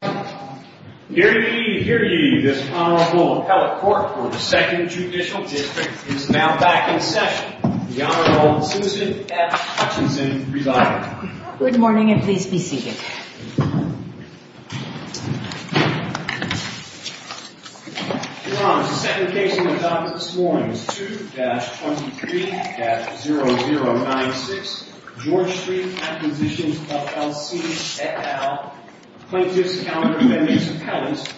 Hear ye, hear ye, this Honorable Appellate Court for the 2nd Judicial District is now back in session. The Honorable Susan F. Hutchinson, residing. Good morning and please be seated. Your Honor, the second case on the docket this morning is 2-23-0096, George Street Acquisitions, LLC, et al., plaintiffs' counter plaintiffs' appellates,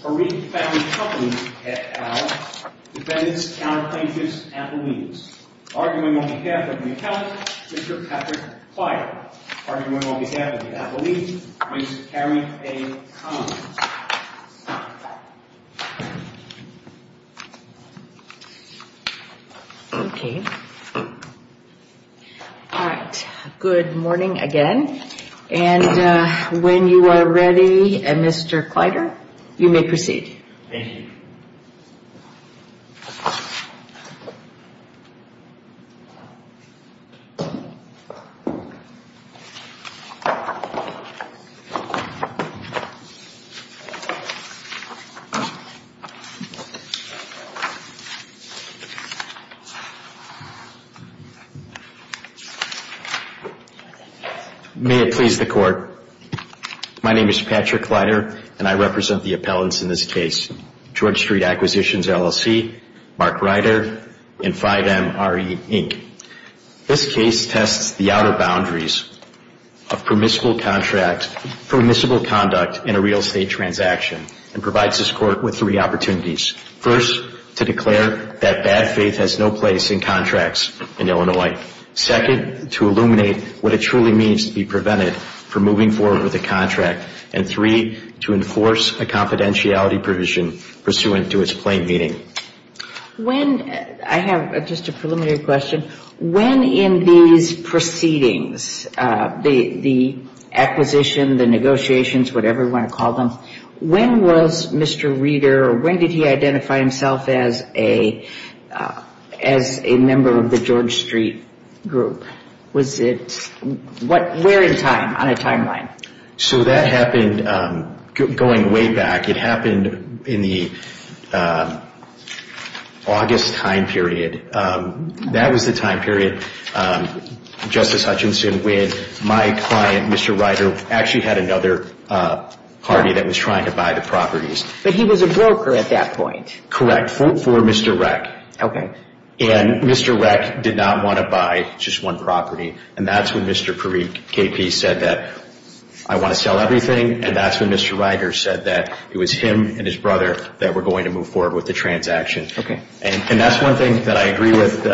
Parikh Family Companies, et al., defendants' counter plaintiffs' appellees. Arguing on behalf of McCallum, Mr. Patrick Plyer. Arguing on behalf of the appellees, Ms. Carrie A. Collins. Okay. All right. Good morning again. And when you are ready, Mr. Plyer, you may proceed. Thank you. May it please the Court, my name is Patrick Plyer and I represent the appellants in this case, George Street Acquisitions, LLC, Mark Ryder, and 5MRE, Inc. This case tests the outer boundaries of permissible conduct in a real estate transaction and provides this Court with three opportunities. First, to declare that bad faith has no place in contracts in Illinois. Second, to illuminate what it truly means to be prevented from moving forward with a contract. And three, to enforce a confidentiality provision pursuant to its plain meaning. I have just a preliminary question. When in these proceedings, the acquisition, the negotiations, whatever you want to call them, when was Mr. Ryder, when did he identify himself as a member of the George Street group? Was it, what, where in time, on a timeline? So that happened going way back. It happened in the August time period. That was the time period, Justice Hutchinson, when my client, Mr. Ryder, actually had another party that was trying to buy the properties. But he was a broker at that point. Correct, for Mr. Reck. Okay. And Mr. Reck did not want to buy just one property, and that's when Mr. Parikh, KP, said that, I want to sell everything, and that's when Mr. Ryder said that it was him and his brother that were going to move forward with the transaction. Okay. And that's one thing that I agree with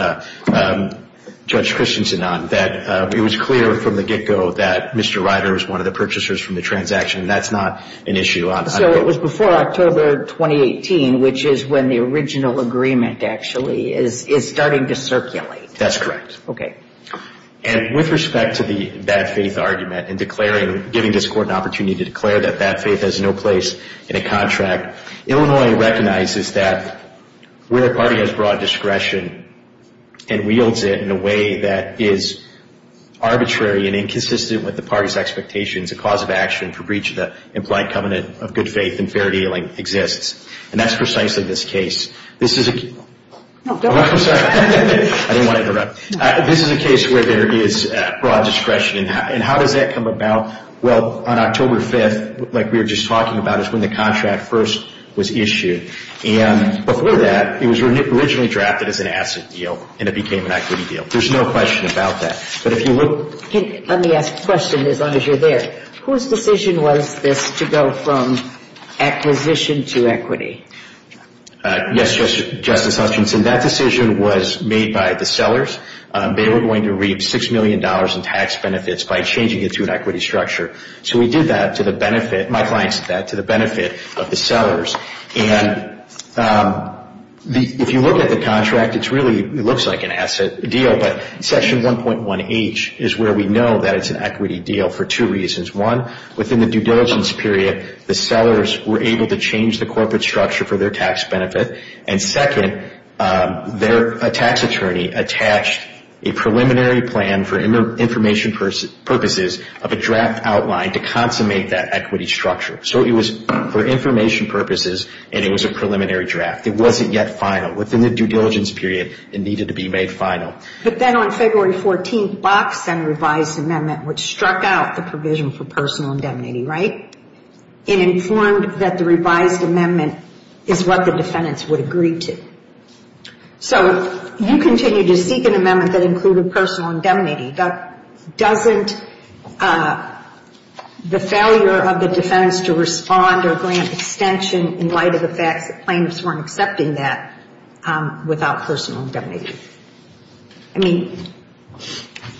Judge Christensen on, that it was clear from the get-go that Mr. Ryder was one of the purchasers from the transaction. That's not an issue. So it was before October 2018, which is when the original agreement actually is starting to circulate. That's correct. Okay. And with respect to the bad faith argument and declaring, giving this Court an opportunity to declare that that faith has no place in a contract, Illinois recognizes that where a party has broad discretion and wields it in a way that is arbitrary and inconsistent with the party's expectations, a cause of action for breach of the implied covenant of good faith and fair dealing exists. And that's precisely this case. This is a case where there is broad discretion. And how does that come about? Well, on October 5th, like we were just talking about, is when the contract first was issued. And before that, it was originally drafted as an asset deal and it became an equity deal. There's no question about that. Let me ask a question as long as you're there. Whose decision was this to go from acquisition to equity? Yes, Justice Hutchinson, that decision was made by the sellers. They were going to reap $6 million in tax benefits by changing it to an equity structure. So we did that to the benefit, my clients did that to the benefit of the sellers. And if you look at the contract, it really looks like an asset deal. But Section 1.1H is where we know that it's an equity deal for two reasons. One, within the due diligence period, the sellers were able to change the corporate structure for their tax benefit. And second, their tax attorney attached a preliminary plan for information purposes of a draft outline to consummate that equity structure. So it was for information purposes and it was a preliminary draft. It wasn't yet final. Within the due diligence period, it needed to be made final. But then on February 14th, Box sent a revised amendment which struck out the provision for personal indemnity, right? It informed that the revised amendment is what the defendants would agree to. So you continue to seek an amendment that included personal indemnity. Doesn't the failure of the defendants to respond or grant extension in light of the fact that plaintiffs weren't accepting that without personal indemnity? I mean,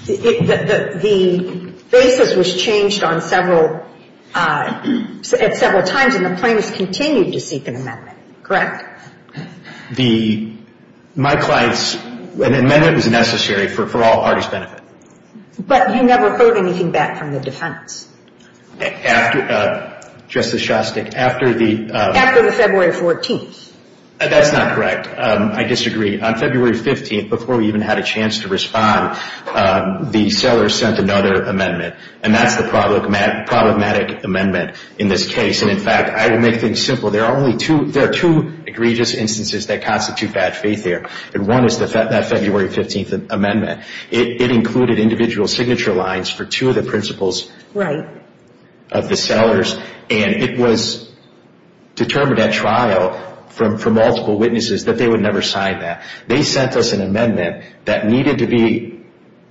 the basis was changed at several times and the plaintiffs continued to seek an amendment, correct? My client's amendment was necessary for all parties' benefit. But you never heard anything back from the defendants? After the February 14th. That's not correct. I disagree. On February 15th, before we even had a chance to respond, the seller sent another amendment. And that's the problematic amendment in this case. And, in fact, I will make things simple. There are two egregious instances that constitute bad faith here. And one is that February 15th amendment. It included individual signature lines for two of the principles of the sellers. And it was determined at trial from multiple witnesses that they would never sign that. They sent us an amendment that needed to be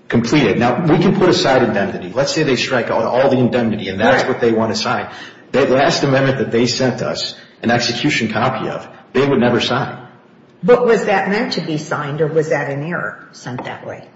completed. Now, we can put aside indemnity. Let's say they strike out all the indemnity and that's what they want to sign. That last amendment that they sent us an execution copy of, they would never sign. But was that meant to be signed or was that an error sent that way?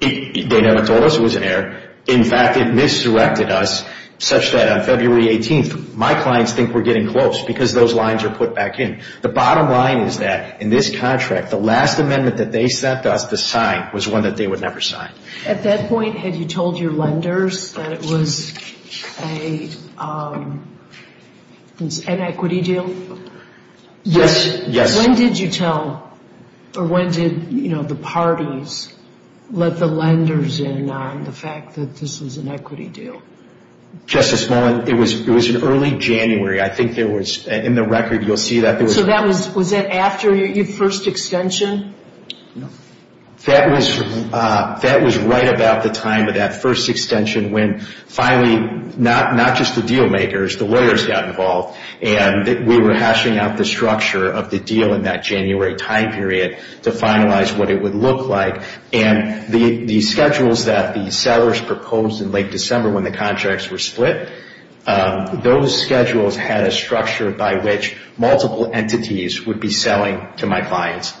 They never told us it was an error. In fact, it misdirected us such that on February 18th, my clients think we're getting close because those lines are put back in. The bottom line is that in this contract, the last amendment that they sent us to sign was one that they would never sign. At that point, had you told your lenders that it was an equity deal? Yes. When did you tell or when did, you know, the parties let the lenders in on the fact that this was an equity deal? Just this moment. It was in early January. I think there was, in the record you'll see that there was. So that was, was it after your first extension? No. That was right about the time of that first extension when finally not just the deal makers, the lawyers got involved and we were hashing out the structure of the deal in that January time period to finalize what it would look like. And the schedules that the sellers proposed in late December when the contracts were split, those schedules had a structure by which multiple entities would be selling to my clients.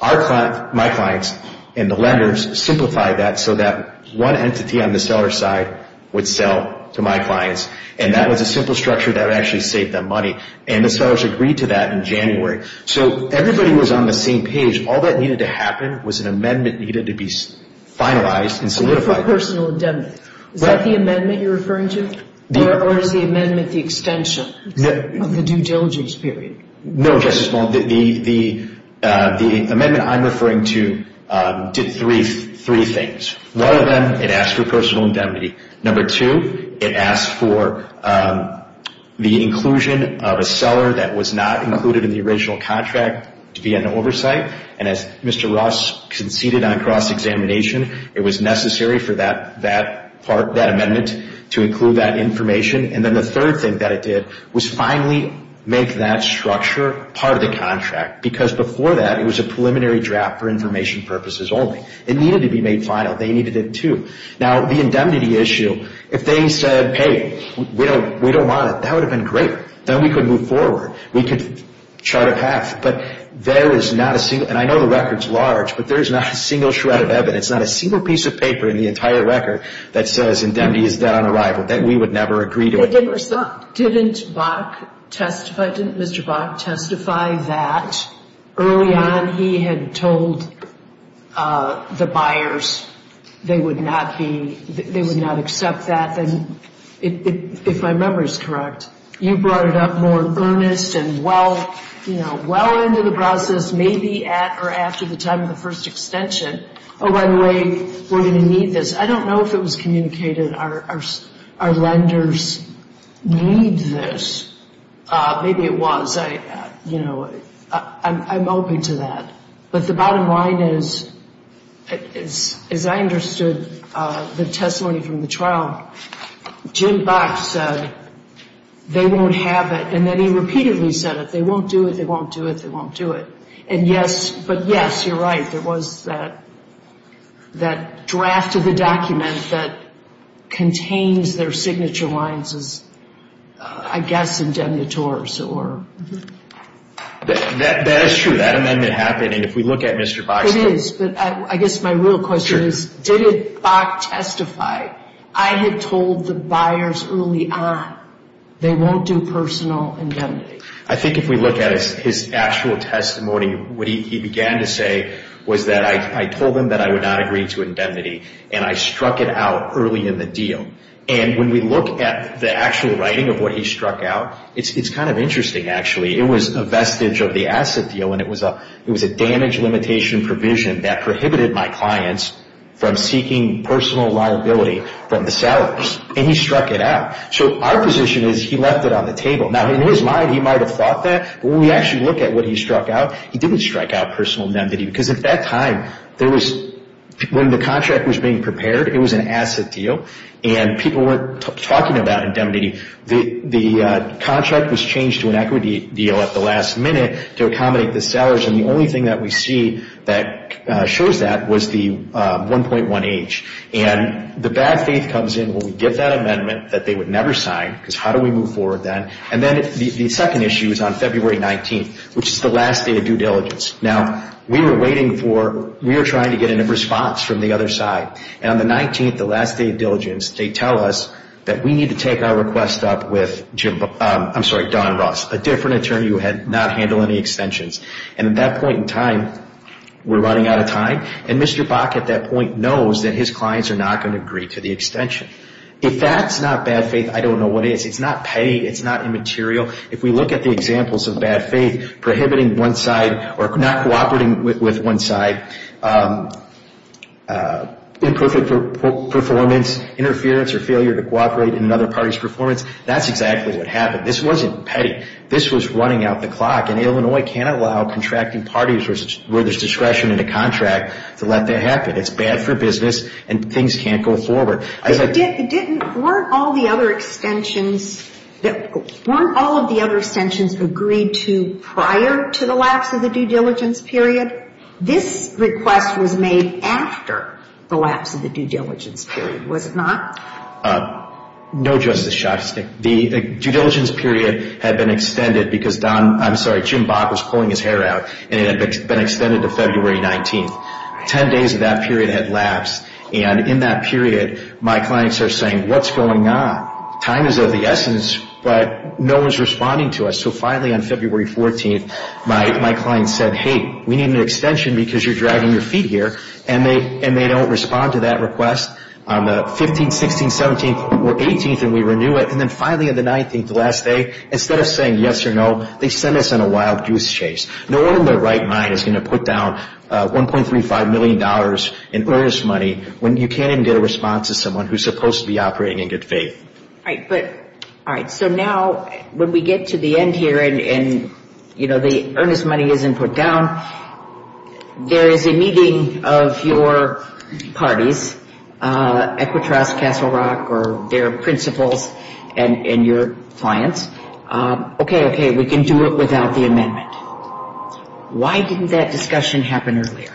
My clients and the lenders simplified that so that one entity on the seller side would sell to my clients. And that was a simple structure that actually saved them money. And the sellers agreed to that in January. So everybody was on the same page. All that needed to happen was an amendment needed to be finalized and solidified. For personal indemnity. Is that the amendment you're referring to? Or is the amendment the extension of the due diligence period? No, Justice Malone. The amendment I'm referring to did three things. One of them, it asked for personal indemnity. Number two, it asked for the inclusion of a seller that was not included in the original contract to be under oversight. And as Mr. Ross conceded on cross-examination, it was necessary for that amendment to include that information. And then the third thing that it did was finally make that structure part of the contract. Because before that, it was a preliminary draft for information purposes only. It needed to be made final. They needed it too. Now, the indemnity issue, if they said, hey, we don't want it, that would have been great. Then we could move forward. We could chart a path. But there is not a single, and I know the record's large, but there is not a single shred of evidence, not a single piece of paper in the entire record that says indemnity is dead on arrival. We would never agree to it. Didn't Bach testify? Didn't Mr. Bach testify that early on he had told the buyers they would not be, they would not accept that? And if my memory is correct, you brought it up more earnest and well, you know, well into the process, maybe at or after the time of the first extension. Oh, by the way, we're going to need this. I don't know if it was communicated, our lenders need this. Maybe it was. You know, I'm open to that. But the bottom line is, as I understood the testimony from the trial, Jim Bach said they won't have it, and then he repeatedly said it, they won't do it, they won't do it, they won't do it. And yes, but yes, you're right, there was that draft of the document that contains their signature lines as, I guess, indemnitores. That is true. That amendment happened, and if we look at Mr. Bach's case. It is, but I guess my real question is, did Bach testify? I had told the buyers early on they won't do personal indemnity. I think if we look at his actual testimony, what he began to say was that I told him that I would not agree to indemnity, and I struck it out early in the deal. And when we look at the actual writing of what he struck out, it's kind of interesting, actually. It was a vestige of the asset deal, and it was a damage limitation provision that prohibited my clients from seeking personal liability from the sellers, and he struck it out. So our position is he left it on the table. Now, in his mind, he might have thought that, but when we actually look at what he struck out, he didn't strike out personal indemnity, because at that time, when the contract was being prepared, it was an asset deal, and people weren't talking about indemnity. The contract was changed to an equity deal at the last minute to accommodate the sellers, and the only thing that we see that shows that was the 1.1H. And the bad faith comes in when we give that amendment that they would never sign, because how do we move forward then? And then the second issue is on February 19th, which is the last day of due diligence. Now, we were waiting for, we were trying to get a response from the other side, and on the 19th, the last day of diligence, they tell us that we need to take our request up with Jim, I'm sorry, Don Russ, a different attorney who had not handled any extensions. And at that point in time, we're running out of time, and Mr. Bach at that point knows that his clients are not going to agree to the extension. If that's not bad faith, I don't know what is. It's not petty. It's not immaterial. If we look at the examples of bad faith, prohibiting one side or not cooperating with one side, imperfect performance, interference or failure to cooperate in another party's performance, that's exactly what happened. This wasn't petty. This was running out the clock, and Illinois can't allow contracting parties where there's discretion in a contract to let that happen. It's bad for business, and things can't go forward. Weren't all of the other extensions agreed to prior to the lapse of the due diligence period? This request was made after the lapse of the due diligence period, was it not? No, Justice Shostak. The due diligence period had been extended because Jim Bach was pulling his hair out, and it had been extended to February 19th. Ten days of that period had lapsed, and in that period, my clients are saying, what's going on? Time is of the essence, but no one's responding to us. So finally on February 14th, my client said, hey, we need an extension because you're dragging your feet here, and they don't respond to that request. On the 15th, 16th, 17th, or 18th, and we renew it, and then finally on the 19th, the last day, instead of saying yes or no, they send us on a wild goose chase. No one in their right mind is going to put down $1.35 million in earnest money when you can't even get a response to someone who's supposed to be operating in good faith. All right. So now when we get to the end here and, you know, the earnest money isn't put down, there is a meeting of your parties, Equitross, Castle Rock, or their principals and your clients. Okay, okay, we can do it without the amendment. Why didn't that discussion happen earlier?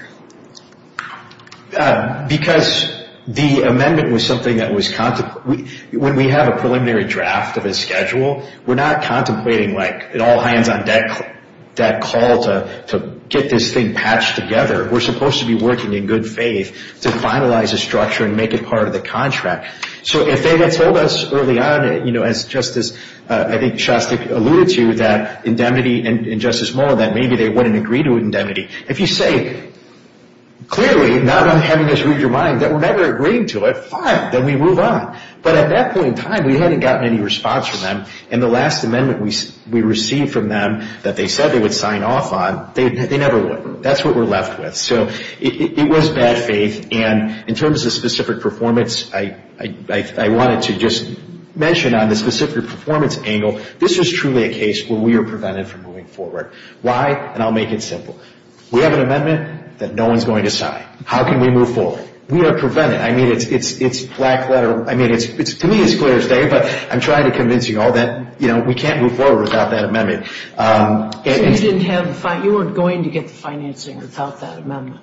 Because the amendment was something that was contemplated. When we have a preliminary draft of a schedule, we're not contemplating, like, an all-hands-on-deck call to get this thing patched together. We're supposed to be working in good faith to finalize a structure and make it part of the contract. So if they had told us early on, you know, as Justice, I think Shostak alluded to, that indemnity and Justice Mueller, that maybe they wouldn't agree to indemnity, if you say clearly not having us read your mind that we're never agreeing to it, fine, then we move on. But at that point in time, we hadn't gotten any response from them, and the last amendment we received from them that they said they would sign off on, they never would. That's what we're left with. So it was bad faith. And in terms of specific performance, I wanted to just mention on the specific performance angle, this is truly a case where we are prevented from moving forward. Why? And I'll make it simple. We have an amendment that no one's going to sign. How can we move forward? We are prevented. I mean, it's black letter. I mean, to me it's clear as day, but I'm trying to convince you all that, you know, we can't move forward without that amendment. So you weren't going to get the financing without that amendment?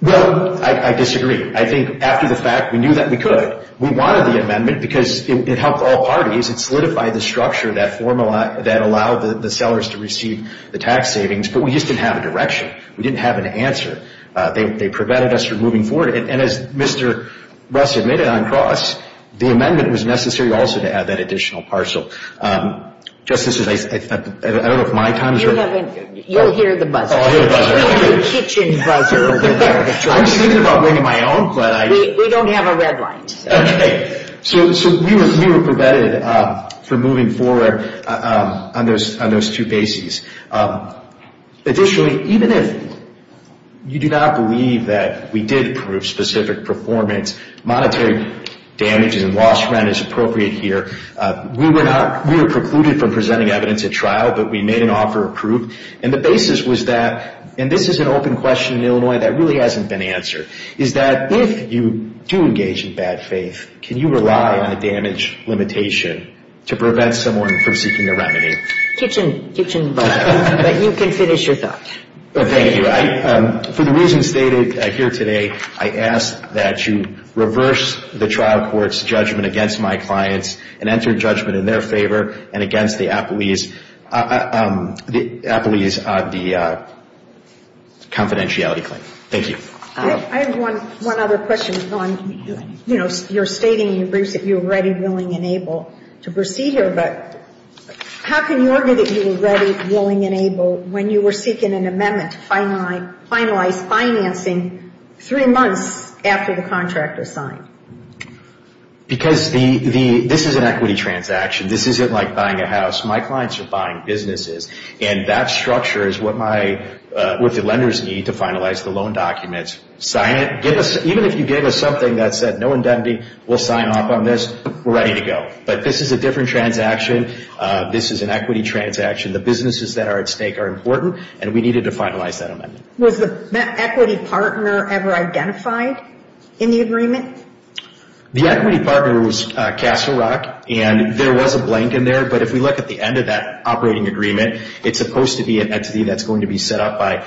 Well, I disagree. I think after the fact, we knew that we could. We wanted the amendment because it helped all parties. It solidified the structure, that formula that allowed the sellers to receive the tax savings, but we just didn't have a direction. We didn't have an answer. They prevented us from moving forward. And as Mr. Russ admitted on Cross, the amendment was necessary also to add that additional parcel. Justices, I don't know if my time is up. You'll hear the buzzer. I'll hear the buzzer. The kitchen buzzer over there. I was thinking about bringing my own. We don't have a red light. Okay. So we were prevented from moving forward on those two bases. Additionally, even if you do not believe that we did prove specific performance, monetary damages and lost rent is appropriate here, we were precluded from presenting evidence at trial, but we made an offer of proof. And the basis was that, and this is an open question in Illinois that really hasn't been answered, is that if you do engage in bad faith, can you rely on a damage limitation to prevent someone from seeking their remedy? Kitchen buzzer. But you can finish your thought. Thank you. For the reasons stated here today, I ask that you reverse the trial court's judgment against my clients and enter judgment in their favor and against the appellee's confidentiality claim. Thank you. I have one other question. You know, you're stating in your briefs that you were ready, willing, and able to proceed here, but how can you argue that you were ready, willing, and able when you were seeking an amendment to finalize financing three months after the contractor signed? Because this is an equity transaction. This isn't like buying a house. My clients are buying businesses, and that structure is what the lenders need to finalize the loan documents. Even if you gave us something that said no indemnity, we'll sign off on this, we're ready to go. But this is a different transaction. This is an equity transaction. The businesses that are at stake are important, and we needed to finalize that amendment. Was the equity partner ever identified in the agreement? The equity partner was Castle Rock, and there was a blank in there, but if we look at the end of that operating agreement, it's supposed to be an entity that's going to be set up by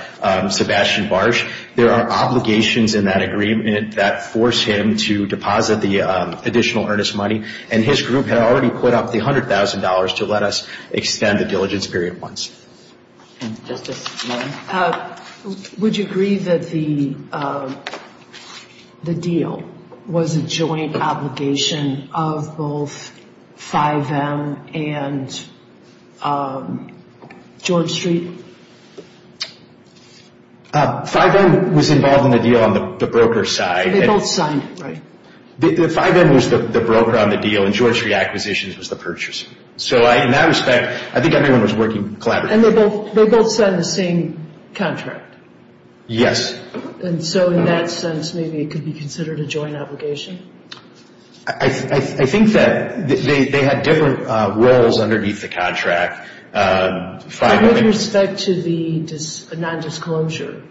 Sebastian Barsh. There are obligations in that agreement that force him to deposit the additional earnest money, and his group had already put up the $100,000 to let us extend the diligence period once. Just this one. Would you agree that the deal was a joint obligation of both 5M and George Street? 5M was involved in the deal on the broker side. They both signed it, right? 5M was the broker on the deal, and George Street Acquisitions was the purchaser. So in that respect, I think everyone was working collaboratively. And they both signed the same contract? Yes. And so in that sense, maybe it could be considered a joint obligation? I think that they had different roles underneath the contract. With respect to the non-disclosure?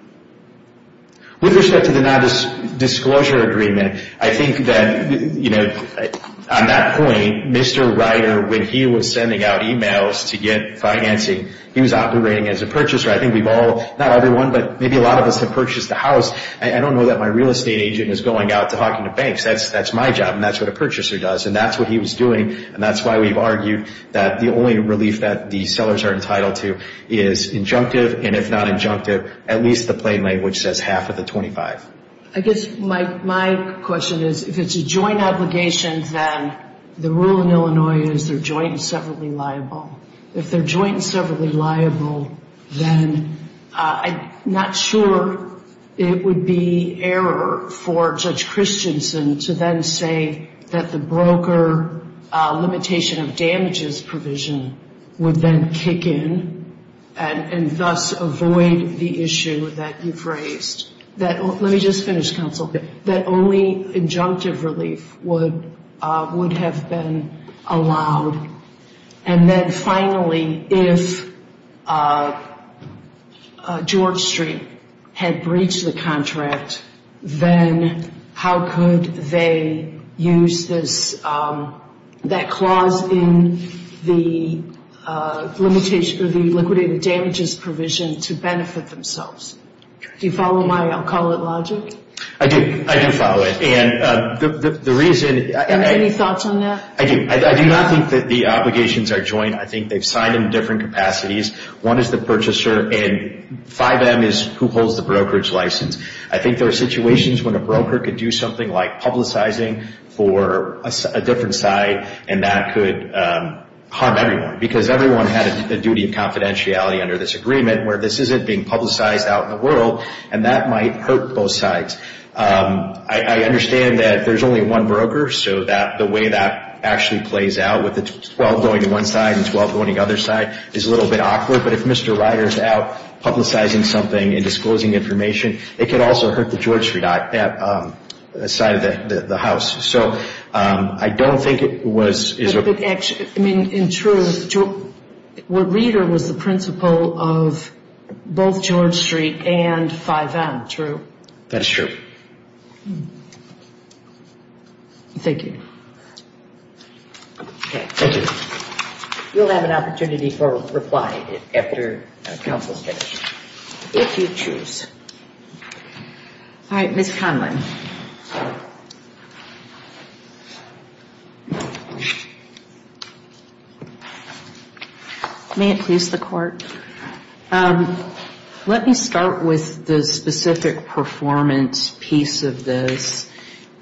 With respect to the non-disclosure agreement, I think that on that point, Mr. Ryder, when he was sending out e-mails to get financing, he was operating as a purchaser. I think we've all, not everyone, but maybe a lot of us have purchased a house. I don't know that my real estate agent is going out to Hawking and Banks. That's my job, and that's what a purchaser does, and that's what he was doing. And that's why we've argued that the only relief that the sellers are entitled to is injunctive, and if not injunctive, at least the plain language says half of the 25. I guess my question is, if it's a joint obligation, then the rule in Illinois is they're joint and severally liable. If they're joint and severally liable, then I'm not sure it would be error for Judge Christensen to then say that the broker limitation of damages provision would then kick in and thus avoid the issue that you've raised. Let me just finish, counsel. That only injunctive relief would have been allowed. And then finally, if George Street had breached the contract, then how could they use that clause in the liquidated damages provision to benefit themselves? Do you follow my I'll-call-it logic? I do. I do follow it. And the reason— Any thoughts on that? I do. I do not think that the obligations are joint. I think they've signed in different capacities. One is the purchaser, and 5M is who holds the brokerage license. I think there are situations when a broker could do something like publicizing for a different side, and that could harm everyone because everyone had a duty of confidentiality under this agreement where this isn't being publicized out in the world, and that might hurt both sides. I understand that there's only one broker, so the way that actually plays out with the 12 going to one side and 12 going to the other side is a little bit awkward. But if Mr. Ryder is out publicizing something and disclosing information, it could also hurt the George Street side of the house. So I don't think it was— I mean, in truth, where Ryder was the principal of both George Street and 5M, true? That is true. Thank you. Okay, thank you. You'll have an opportunity for a reply after the council is finished, if you choose. All right, Ms. Conlin. May it please the Court. Let me start with the specific performance piece of this.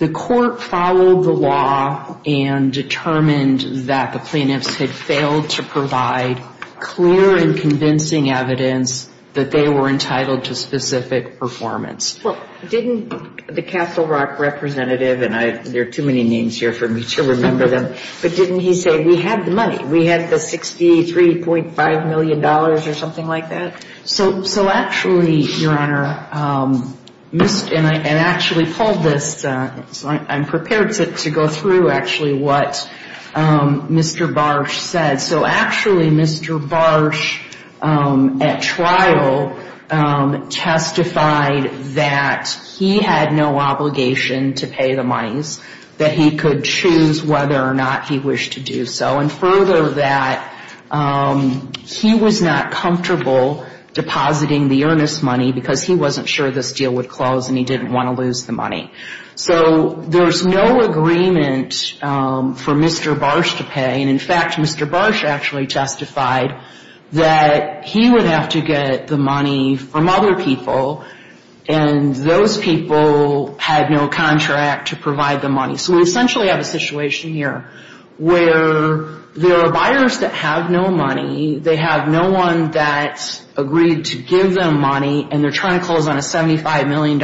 The Court followed the law and determined that the plaintiffs had failed to provide clear and convincing evidence that they were entitled to specific performance. Well, didn't the Castle Rock representative—and there are too many names here for me to remember them— but didn't he say, we had the money? We had the $63.5 million or something like that? So actually, Your Honor, and I actually pulled this, so I'm prepared to go through actually what Mr. Barsh said. So actually, Mr. Barsh at trial testified that he had no obligation to pay the monies, that he could choose whether or not he wished to do so, and further that he was not comfortable depositing the earnest money because he wasn't sure this deal would close and he didn't want to lose the money. So there's no agreement for Mr. Barsh to pay, and in fact, Mr. Barsh actually testified that he would have to get the money from other people, and those people had no contract to provide the money. So we essentially have a situation here where there are buyers that have no money, they have no one that agreed to give them money, and they're trying to close on a $75 million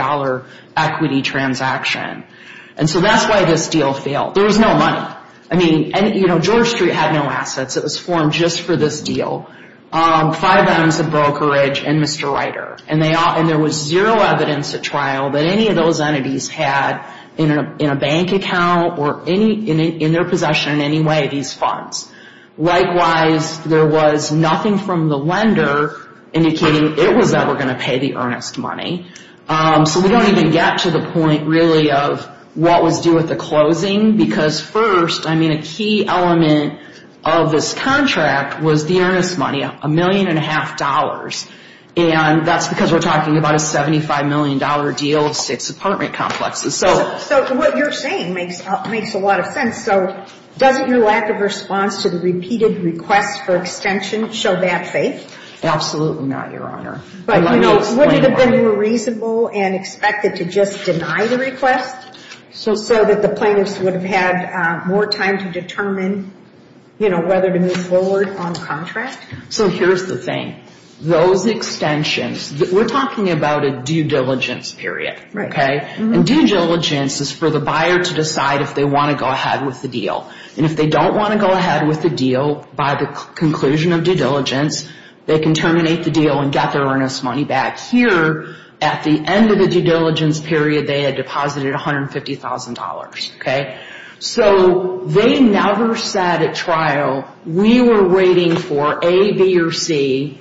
equity transaction. And so that's why this deal failed. There was no money. I mean, you know, George Street had no assets. It was formed just for this deal. Five items of brokerage and Mr. Ryder, and there was zero evidence at trial that any of those entities had in a bank account or in their possession in any way these funds. Likewise, there was nothing from the lender indicating it was ever going to pay the earnest money. So we don't even get to the point really of what was due at the closing, because first, I mean, a key element of this contract was the earnest money, $1.5 million. And that's because we're talking about a $75 million deal of six apartment complexes. So what you're saying makes a lot of sense. So doesn't your lack of response to the repeated request for extension show bad faith? Absolutely not, Your Honor. But, you know, wouldn't it have been more reasonable and expected to just deny the request so that the plaintiffs would have had more time to determine, you know, whether to move forward on the contract? So here's the thing. Those extensions, we're talking about a due diligence period, okay? And due diligence is for the buyer to decide if they want to go ahead with the deal. And if they don't want to go ahead with the deal by the conclusion of due diligence, they can terminate the deal and get their earnest money back. Here, at the end of the due diligence period, they had deposited $150,000, okay? So they never said at trial, we were waiting for A, B, or C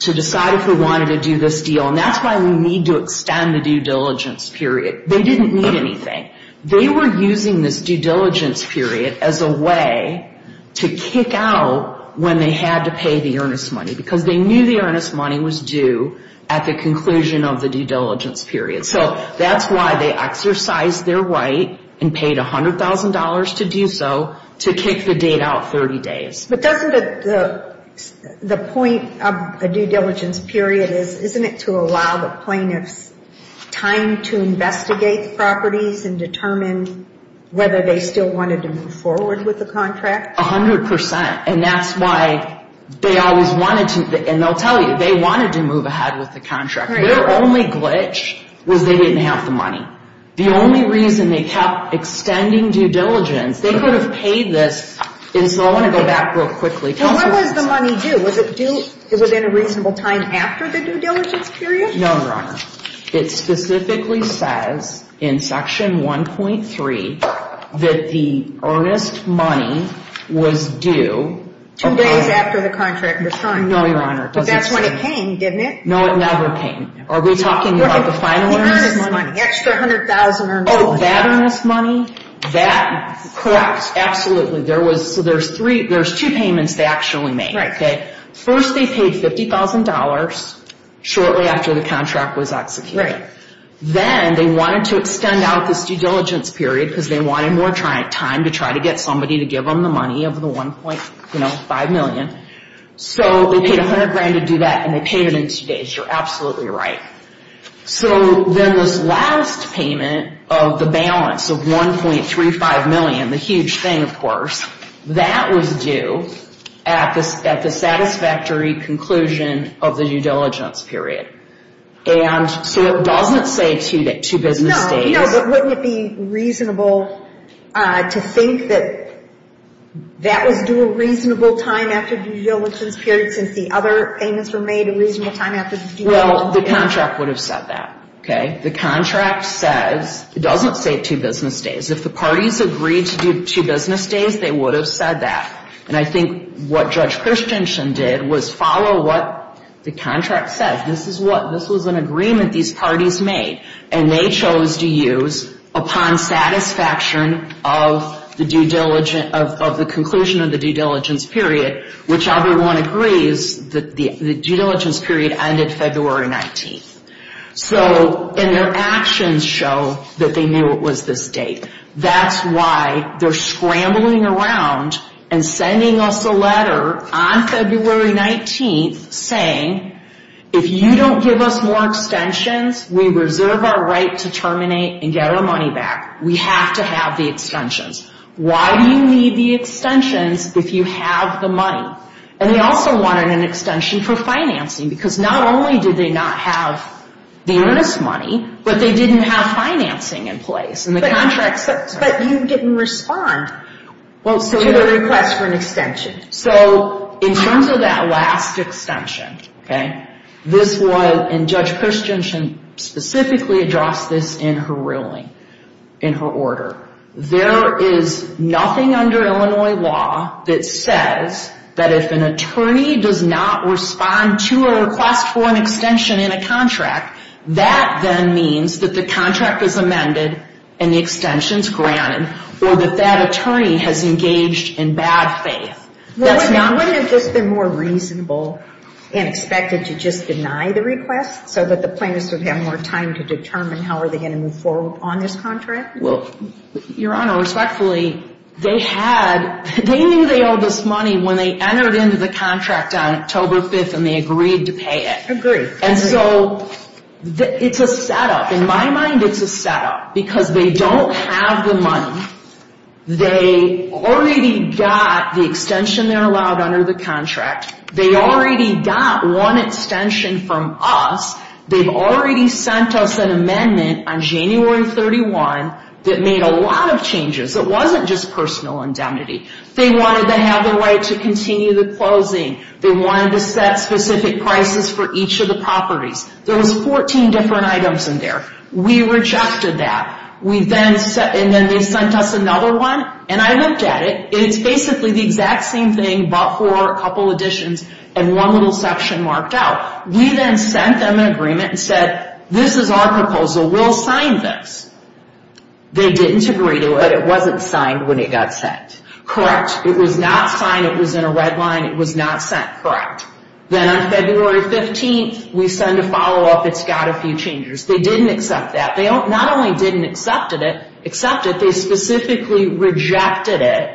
to decide if we wanted to do this deal. And that's why we need to extend the due diligence period. They didn't need anything. They were using this due diligence period as a way to kick out when they had to pay the earnest money, because they knew the earnest money was due at the conclusion of the due diligence period. So that's why they exercised their right and paid $100,000 to do so to kick the date out 30 days. But doesn't the point of a due diligence period is, isn't it to allow the plaintiffs time to investigate the properties and determine whether they still wanted to move forward with the contract? A hundred percent. And that's why they always wanted to. And they'll tell you, they wanted to move ahead with the contract. Their only glitch was they didn't have the money. The only reason they kept extending due diligence, they could have paid this. And so I want to go back real quickly. What was the money due? Was it due within a reasonable time after the due diligence period? No, Your Honor. It specifically says in Section 1.3 that the earnest money was due. Two days after the contract was signed. No, Your Honor, it doesn't say. But that's when it came, didn't it? No, it never came. Are we talking about the final earnest money? The earnest money, the extra $100,000 earned. Oh, that earnest money? That, correct. Absolutely. So there's two payments they actually made. Right. First they paid $50,000 shortly after the contract was executed. Then they wanted to extend out this due diligence period because they wanted more time to try to get somebody to give them the money of the $1.5 million. So they paid $100,000 to do that, and they paid it in two days. You're absolutely right. So then this last payment of the balance of $1.35 million, the huge thing, of course, that was due at the satisfactory conclusion of the due diligence period. So it doesn't say two business days. No, but wouldn't it be reasonable to think that that was due a reasonable time after due diligence period since the other payments were made a reasonable time after the due diligence period? Well, the contract would have said that. The contract says it doesn't say two business days. If the parties agreed to do two business days, they would have said that. And I think what Judge Christensen did was follow what the contract said. This was an agreement these parties made, and they chose to use upon satisfaction of the conclusion of the due diligence period, which everyone agrees that the due diligence period ended February 19th. So, and their actions show that they knew it was this date. That's why they're scrambling around and sending us a letter on February 19th saying, if you don't give us more extensions, we reserve our right to terminate and get our money back. We have to have the extensions. Why do you need the extensions if you have the money? And they also wanted an extension for financing, because not only did they not have the earnest money, but they didn't have financing in place in the contract. But you didn't respond to the request for an extension. So, in terms of that last extension, okay, this was, and Judge Christensen specifically addressed this in her ruling, in her order. There is nothing under Illinois law that says that if an attorney does not respond to a request for an extension in a contract, that then means that the contract is amended and the extension is granted, or that that attorney has engaged in bad faith. Wouldn't it have just been more reasonable and expected to just deny the request so that the plaintiffs would have more time to determine how are they going to move forward on this contract? Well, Your Honor, respectfully, they had, they knew they owed us money when they entered into the contract on October 5th and they agreed to pay it. Agreed. And so, it's a setup. In my mind, it's a setup. Because they don't have the money. They already got the extension they're allowed under the contract. They already got one extension from us. They've already sent us an amendment on January 31 that made a lot of changes. It wasn't just personal indemnity. They wanted to have the right to continue the closing. They wanted to set specific prices for each of the properties. There was 14 different items in there. We rejected that. We then, and then they sent us another one, and I looked at it, and it's basically the exact same thing but for a couple additions and one little section marked out. We then sent them an agreement and said, this is our proposal. We'll sign this. They didn't agree to it. It wasn't signed when it got sent. Correct. It was not signed. It was in a red line. It was not sent. Correct. Then on February 15th, we send a follow-up. It's got a few changes. They didn't accept that. They not only didn't accept it, they specifically rejected it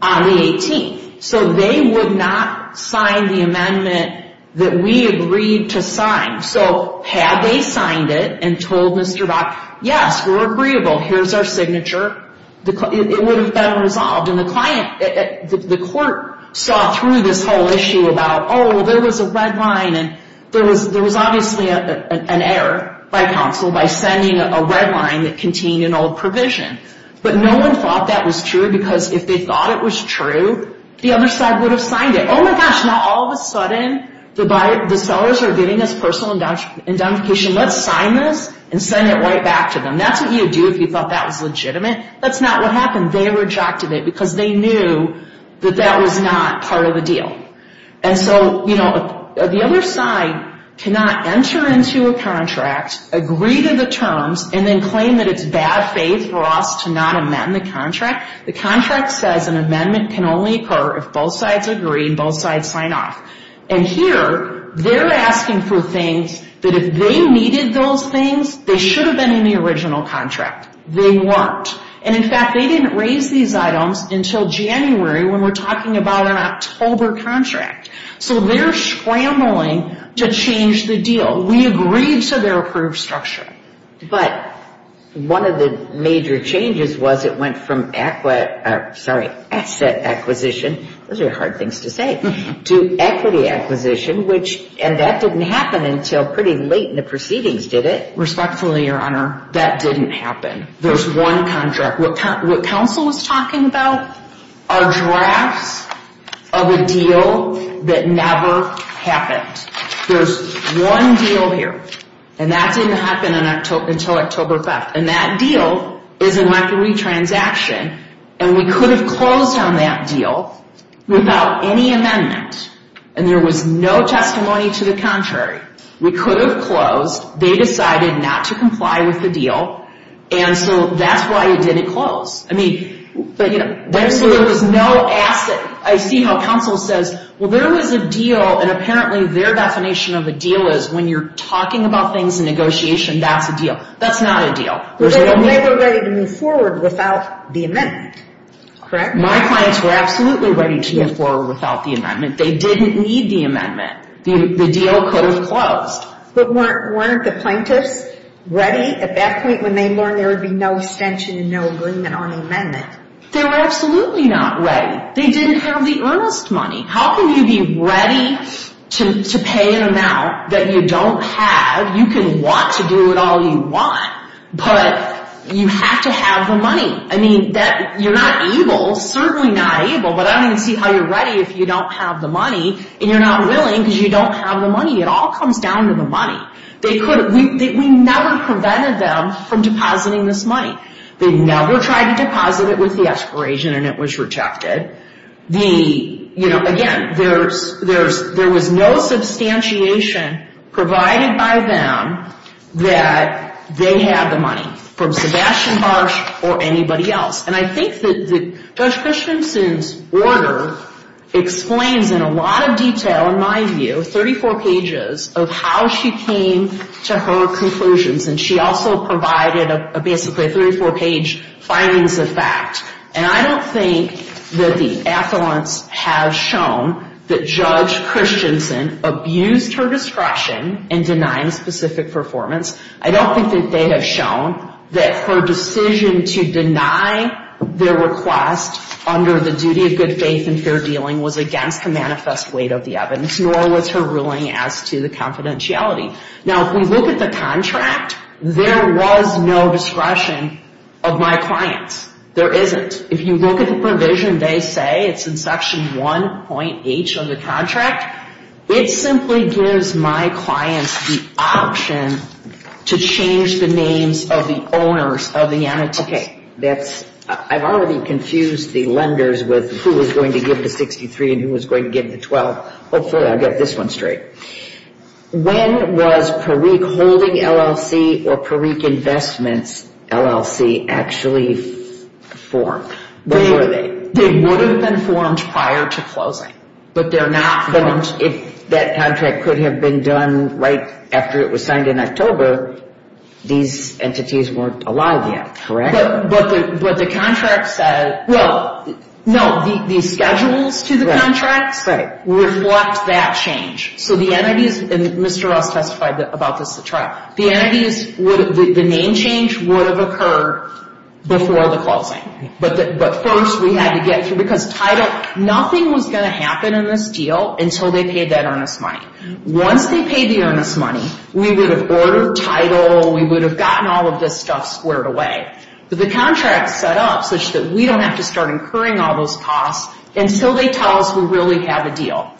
on the 18th. They would not sign the amendment that we agreed to sign. Had they signed it and told Mr. Bach, yes, we're agreeable. Here's our signature, it would have been resolved. The court saw through this whole issue about, oh, there was a red line. There was obviously an error by counsel by sending a red line that contained an old provision. No one thought that was true because if they thought it was true, the other side would have signed it. Oh, my gosh. Now, all of a sudden, the sellers are getting this personal indemnification. Let's sign this and send it right back to them. That's what you would do if you thought that was legitimate. That's not what happened. They rejected it because they knew that that was not part of the deal. The other side cannot enter into a contract, agree to the terms, and then claim that it's bad faith for us to not amend the contract. The contract says an amendment can only occur if both sides agree and both sides sign off. And here, they're asking for things that if they needed those things, they should have been in the original contract. They weren't. And, in fact, they didn't raise these items until January when we're talking about an October contract. So they're scrambling to change the deal. We agreed to their approved structure. But one of the major changes was it went from asset acquisition to equity acquisition, and that didn't happen until pretty late in the proceedings, did it? Respectfully, Your Honor, that didn't happen. There's one contract. What counsel was talking about are drafts of a deal that never happened. There's one deal here, and that didn't happen until October 5th. And that deal is an equity transaction, and we could have closed on that deal without any amendment. And there was no testimony to the contrary. We could have closed. They decided not to comply with the deal, and so that's why it didn't close. I mean, there was no asset. I see how counsel says, well, there was a deal, and apparently their definition of a deal is when you're talking about things in negotiation, that's a deal. That's not a deal. But they were ready to move forward without the amendment, correct? My clients were absolutely ready to move forward without the amendment. They didn't need the amendment. The deal could have closed. But weren't the plaintiffs ready? At that point when they learned there would be no extension and no agreement on the amendment? They were absolutely not ready. They didn't have the earnest money. How can you be ready to pay an amount that you don't have? You can want to do it all you want, but you have to have the money. I mean, you're not able, certainly not able, but I don't even see how you're ready if you don't have the money and you're not willing because you don't have the money. It all comes down to the money. We never prevented them from depositing this money. They never tried to deposit it with the expiration and it was rejected. Again, there was no substantiation provided by them that they had the money, from Sebastian Barsh or anybody else. And I think that Judge Christensen's order explains in a lot of detail, in my view, 34 pages of how she came to her conclusions. And she also provided basically a 34-page findings of fact. And I don't think that the affluence has shown that Judge Christensen abused her discretion in denying specific performance. I don't think that they have shown that her decision to deny their request under the duty of good faith and fair dealing was against the manifest weight of the evidence, nor was her ruling as to the confidentiality. Now, if we look at the contract, there was no discretion of my clients. There isn't. If you look at the provision, they say it's in Section 1.H of the contract. It simply gives my clients the option to change the names of the owners of the annotations. Okay. I've already confused the lenders with who was going to give the 63 and who was going to give the 12. Hopefully, I'll get this one straight. When was Perique Holding LLC or Perique Investments LLC actually formed? When were they? They would have been formed prior to closing, but they're not formed. But if that contract could have been done right after it was signed in October, these entities weren't alive yet, correct? But the contract said, well, no, the schedules to the contracts reflect that change. So the entities, and Mr. Ross testified about this at trial, the name change would have occurred before the closing. But first, we had to get through, because title, nothing was going to happen in this deal until they paid that earnest money. Once they paid the earnest money, we would have ordered title. We would have gotten all of this stuff squared away. But the contract set up such that we don't have to start incurring all those costs until they tell us we really have a deal.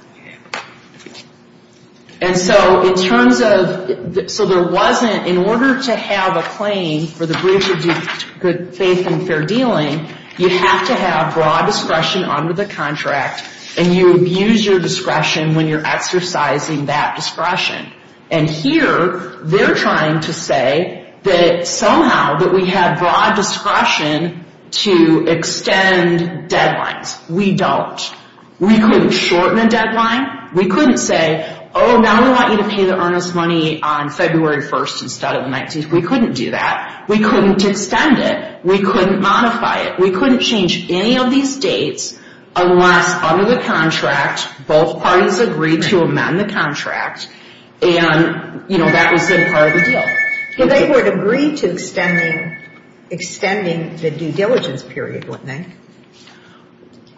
And so in terms of, so there wasn't, in order to have a claim for the breach of good faith and fair dealing, you have to have broad discretion under the contract, and you abuse your discretion when you're exercising that discretion. And here, they're trying to say that somehow that we have broad discretion to extend deadlines. We don't. We couldn't shorten a deadline. We couldn't say, oh, now we want you to pay the earnest money on February 1st instead of the 19th. We couldn't do that. We couldn't extend it. We couldn't modify it. We couldn't change any of these dates unless under the contract, both parties agreed to amend the contract, and, you know, that was then part of the deal. Well, they would agree to extending the due diligence period, wouldn't they?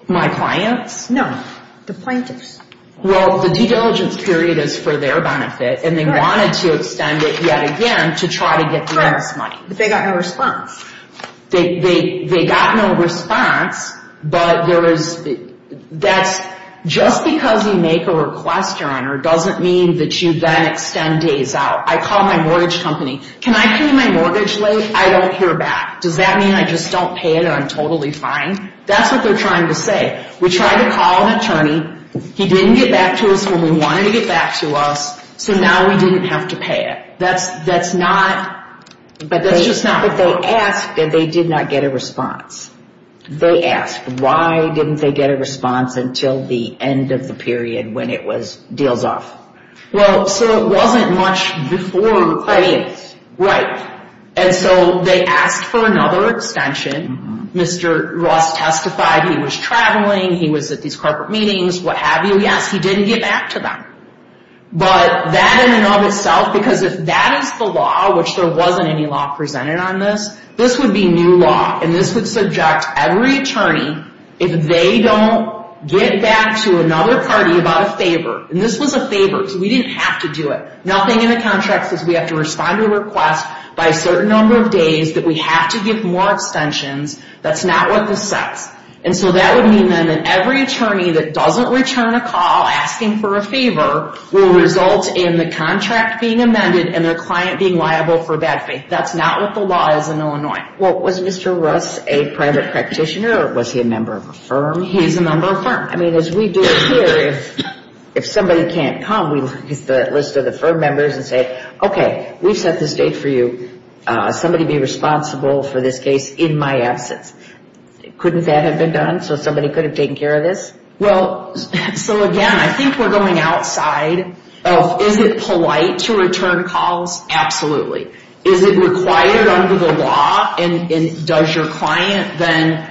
My clients? No, the plaintiffs. Well, the due diligence period is for their benefit, and they wanted to extend it yet again to try to get the earnest money. Correct, but they got no response. They got no response, but that's just because you make a request, Your Honor, doesn't mean that you then extend days out. I call my mortgage company. Can I pay my mortgage late? I don't hear back. Does that mean I just don't pay it or I'm totally fine? That's what they're trying to say. We tried to call an attorney. He didn't get back to us when we wanted him to get back to us, so now we didn't have to pay it. But that's just not what they asked, and they did not get a response. They asked, why didn't they get a response until the end of the period when it was deals off? Well, so it wasn't much before the plaintiffs. Right, and so they asked for another extension. Mr. Ross testified he was traveling, he was at these corporate meetings, what have you. Yes, he didn't get back to them. But that in and of itself, because if that is the law, which there wasn't any law presented on this, this would be new law, and this would subject every attorney, if they don't get back to another party about a favor. And this was a favor, so we didn't have to do it. Nothing in the contract says we have to respond to a request by a certain number of days, that we have to give more extensions. That's not what this says. And so that would mean then that every attorney that doesn't return a call asking for a favor will result in the contract being amended and their client being liable for bad faith. That's not what the law is in Illinois. Well, was Mr. Ross a private practitioner, or was he a member of a firm? He's a member of a firm. I mean, as we do it here, if somebody can't come, we look at the list of the firm members and say, okay, we've set this date for you. Somebody be responsible for this case in my absence. Couldn't that have been done so somebody could have taken care of this? Well, so again, I think we're going outside of is it polite to return calls? Absolutely. Is it required under the law, and does your client then,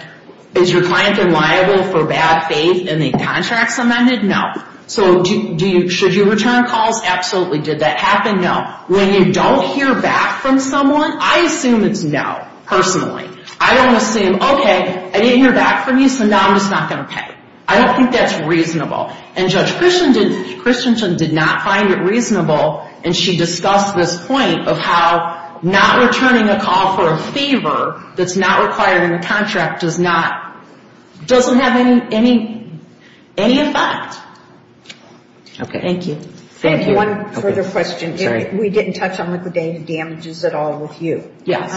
is your client then liable for bad faith and the contract's amended? No. So should you return calls? Absolutely. Did that happen? No. When you don't hear back from someone, I assume it's no, personally. I don't assume, okay, I didn't hear back from you, so now I'm just not going to pay. I don't think that's reasonable. And Judge Christensen did not find it reasonable, and she discussed this point of how not returning a call for a fever that's not required in the contract doesn't have any effect. Okay. Thank you. Thank you. One further question. We didn't touch on liquidated damages at all with you. Yes.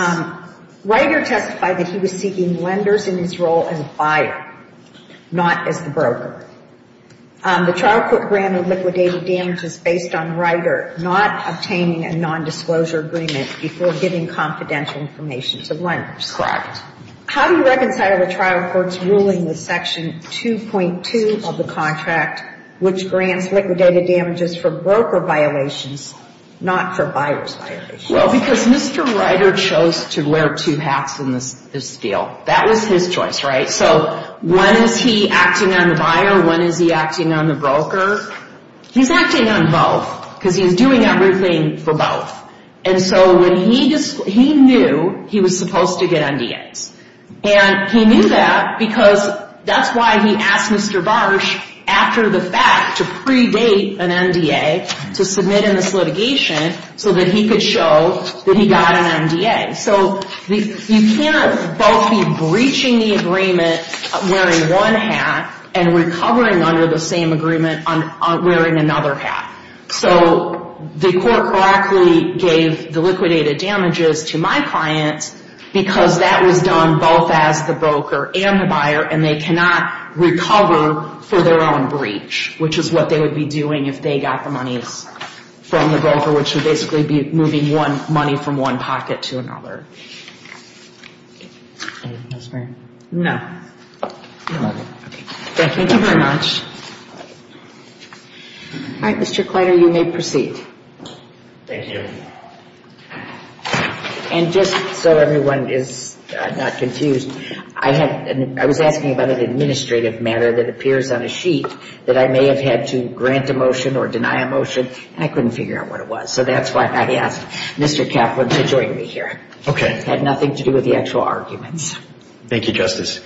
Ryder testified that he was seeking lenders in his role as a buyer, not as the broker. The trial court granted liquidated damages based on Ryder not obtaining a nondisclosure agreement before giving confidential information to lenders. Correct. How do you reconcile the trial court's ruling with Section 2.2 of the contract, which grants liquidated damages for broker violations, not for buyer's violations? Well, because Mr. Ryder chose to wear two hats in this deal. That was his choice, right? So when is he acting on the buyer? When is he acting on the broker? He's acting on both because he's doing everything for both. And so when he knew he was supposed to get NDAs, and he knew that because that's why he asked Mr. Barsh after the fact to predate an NDA to submit in this litigation so that he could show that he got an NDA. So you can't both be breaching the agreement wearing one hat and recovering under the same agreement wearing another hat. So the court correctly gave the liquidated damages to my client because that was done both as the broker and the buyer, and they cannot recover for their own breach, which is what they would be doing if they got the monies from the broker, which would basically be moving money from one pocket to another. Anything else, Mary? No. Okay. Thank you very much. All right, Mr. Kleiter, you may proceed. Thank you. And just so everyone is not confused, I was asking about an administrative matter that appears on a sheet that I may have had to grant a motion or deny a motion, and I couldn't figure out what it was. So that's why I asked Mr. Kaplan to join me here. Okay. It had nothing to do with the actual arguments. Thank you, Justice.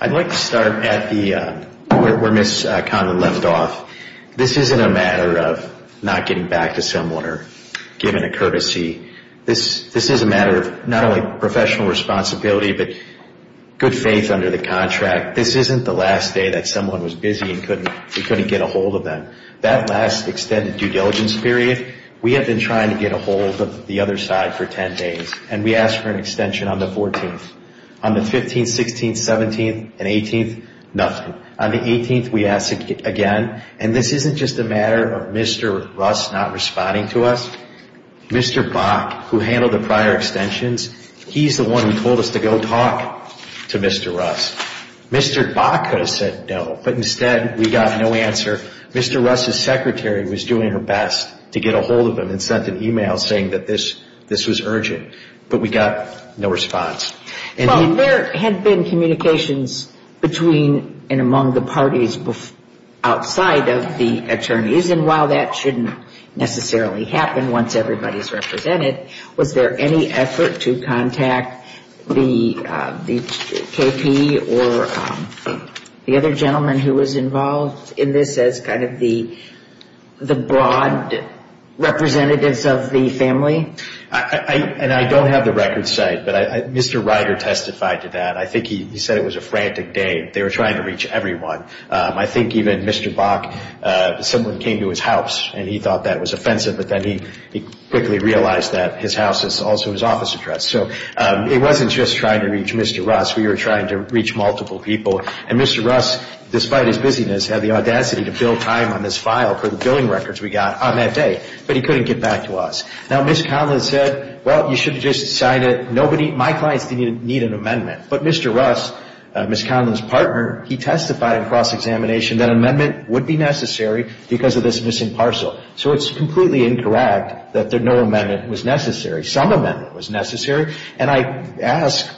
I'd like to start at where Ms. Conlon left off. This isn't a matter of not getting back to someone or giving a courtesy. This is a matter of not only professional responsibility but good faith under the contract. This isn't the last day that someone was busy and we couldn't get a hold of them. That last extended due diligence period, we have been trying to get a hold of the other side for 10 days, and we asked for an extension on the 14th. On the 15th, 16th, 17th, and 18th, nothing. On the 18th, we asked again, and this isn't just a matter of Mr. Russ not responding to us. Mr. Bach, who handled the prior extensions, he's the one who told us to go talk to Mr. Russ. Mr. Bach could have said no, but instead we got no answer. Mr. Russ's secretary was doing her best to get a hold of him and sent an email saying that this was urgent, but we got no response. Well, there had been communications between and among the parties outside of the attorneys, and while that shouldn't necessarily happen once everybody is represented, was there any effort to contact the KP or the other gentleman who was involved in this as kind of the broad representatives of the family? And I don't have the record set, but Mr. Ryder testified to that. I think he said it was a frantic day. They were trying to reach everyone. I think even Mr. Bach, someone came to his house and he thought that was offensive, but then he quickly realized that his house is also his office address. So it wasn't just trying to reach Mr. Russ. We were trying to reach multiple people, and Mr. Russ, despite his busyness, had the audacity to build time on this file for the billing records we got on that day, but he couldn't get back to us. Now, Ms. Conlin said, well, you should have just signed it. My clients didn't need an amendment, but Mr. Russ, Ms. Conlin's partner, he testified in cross-examination that an amendment would be necessary because of this missing parcel. So it's completely incorrect that no amendment was necessary. Some amendment was necessary. And I ask,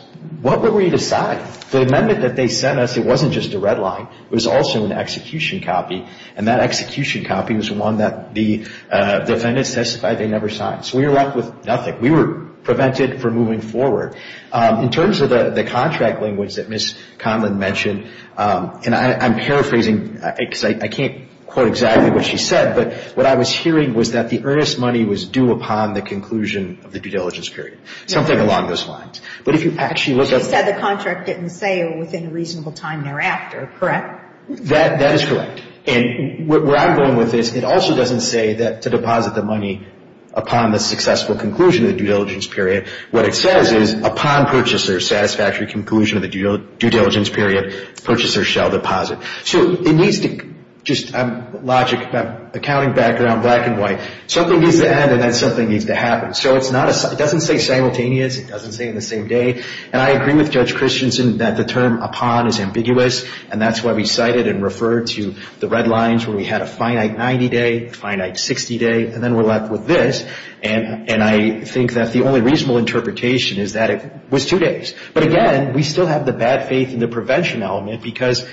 what were we to sign? The amendment that they sent us, it wasn't just a red line. It was also an execution copy, and that execution copy was one that the defendants testified they never signed. So we were left with nothing. We were prevented from moving forward. In terms of the contract language that Ms. Conlin mentioned, and I'm paraphrasing, because I can't quote exactly what she said, but what I was hearing was that the earnest money was due upon the conclusion of the due diligence period, something along those lines. But if you actually look at the contract. She said the contract didn't say within a reasonable time thereafter, correct? That is correct. And where I'm going with this, it also doesn't say that to deposit the money upon the successful conclusion of the due diligence period. What it says is, upon purchaser's satisfactory conclusion of the due diligence period, purchaser shall deposit. So it needs to, just logic, accounting background, black and white, something needs to end and then something needs to happen. So it doesn't say simultaneous. It doesn't say in the same day. And I agree with Judge Christensen that the term upon is ambiguous, and that's why we cited and referred to the red lines where we had a finite 90-day, a finite 60-day, and then we're left with this. And I think that the only reasonable interpretation is that it was two days. But, again, we still have the bad faith in the prevention element because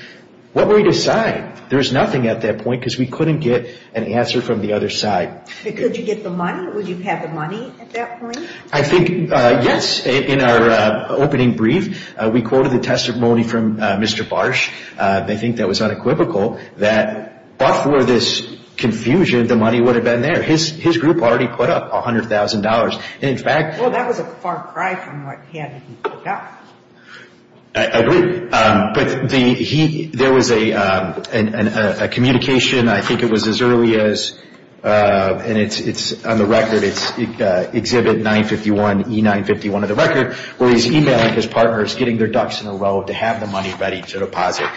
what were we to sign? There was nothing at that point because we couldn't get an answer from the other side. Could you get the money? Would you have the money at that point? I think, yes. In our opening brief, we quoted the testimony from Mr. Barsh. I think that was unequivocal that, but for this confusion, the money would have been there. His group already put up $100,000. Well, that was a far cry from what he had put up. I agree. But there was a communication, I think it was as early as, and it's on the record, it's Exhibit 951E951 of the record, where he's e-mailing his partners, getting their ducks in a row to have the money ready to deposit.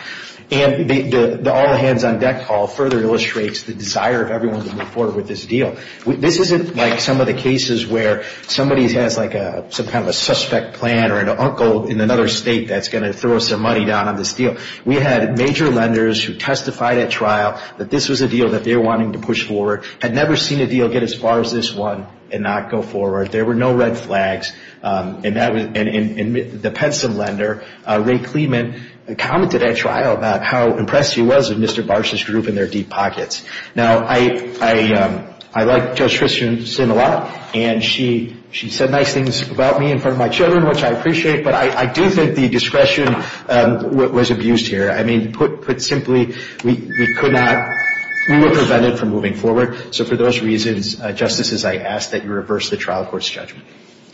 And the all-hands-on-deck call further illustrates the desire of everyone to move forward with this deal. This isn't like some of the cases where somebody has like some kind of a suspect plan or an uncle in another state that's going to throw some money down on this deal. We had major lenders who testified at trial that this was a deal that they were wanting to push forward, had never seen a deal get as far as this one and not go forward. There were no red flags. And the Penson lender, Ray Clement, commented at trial about how impressed he was with Mr. Barsh's group and their deep pockets. Now, I like Judge Christensen a lot, and she said nice things about me in front of my children, which I appreciate. But I do think the discretion was abused here. I mean, put simply, we could not, we were prevented from moving forward. So for those reasons, Justices, I ask that you reverse the trial court's judgment.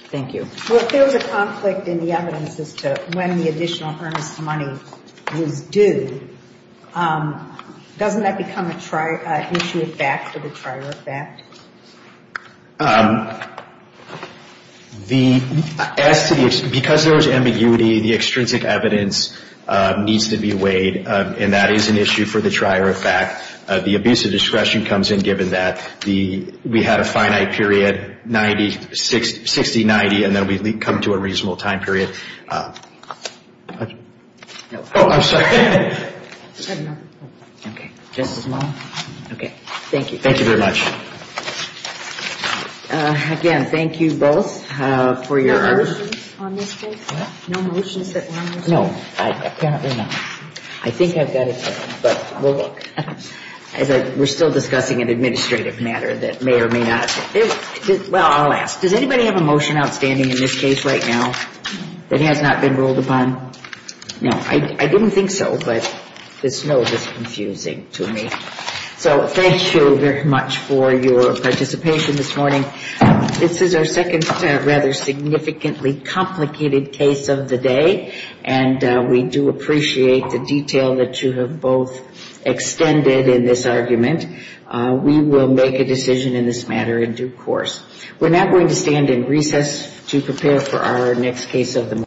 Thank you. Well, if there was a conflict in the evidence as to when the additional earnest money was due, doesn't that become an issue of fact for the trier of fact? Because there was ambiguity, the extrinsic evidence needs to be weighed, and that is an issue for the trier of fact. The abuse of discretion comes in given that. We had a finite period, 60-90, and then we come to a reasonable time period. Oh, I'm sorry. Okay. Justice Malone? Okay. Thank you. Thank you very much. Again, thank you both for your. No motions on this case? What? No motions that were on this case? No. Apparently not. I think I've got a case, but we'll look. We're still discussing an administrative matter that may or may not. Well, I'll ask. Does anybody have a motion outstanding in this case right now that has not been ruled upon? No. I didn't think so, but this note is confusing to me. So thank you very much for your participation this morning. This is our second rather significantly complicated case of the day, and we do appreciate the detail that you have both extended in this argument. We will make a decision in this matter in due course. We're now going to stand in recess to prepare for our next case of the morning.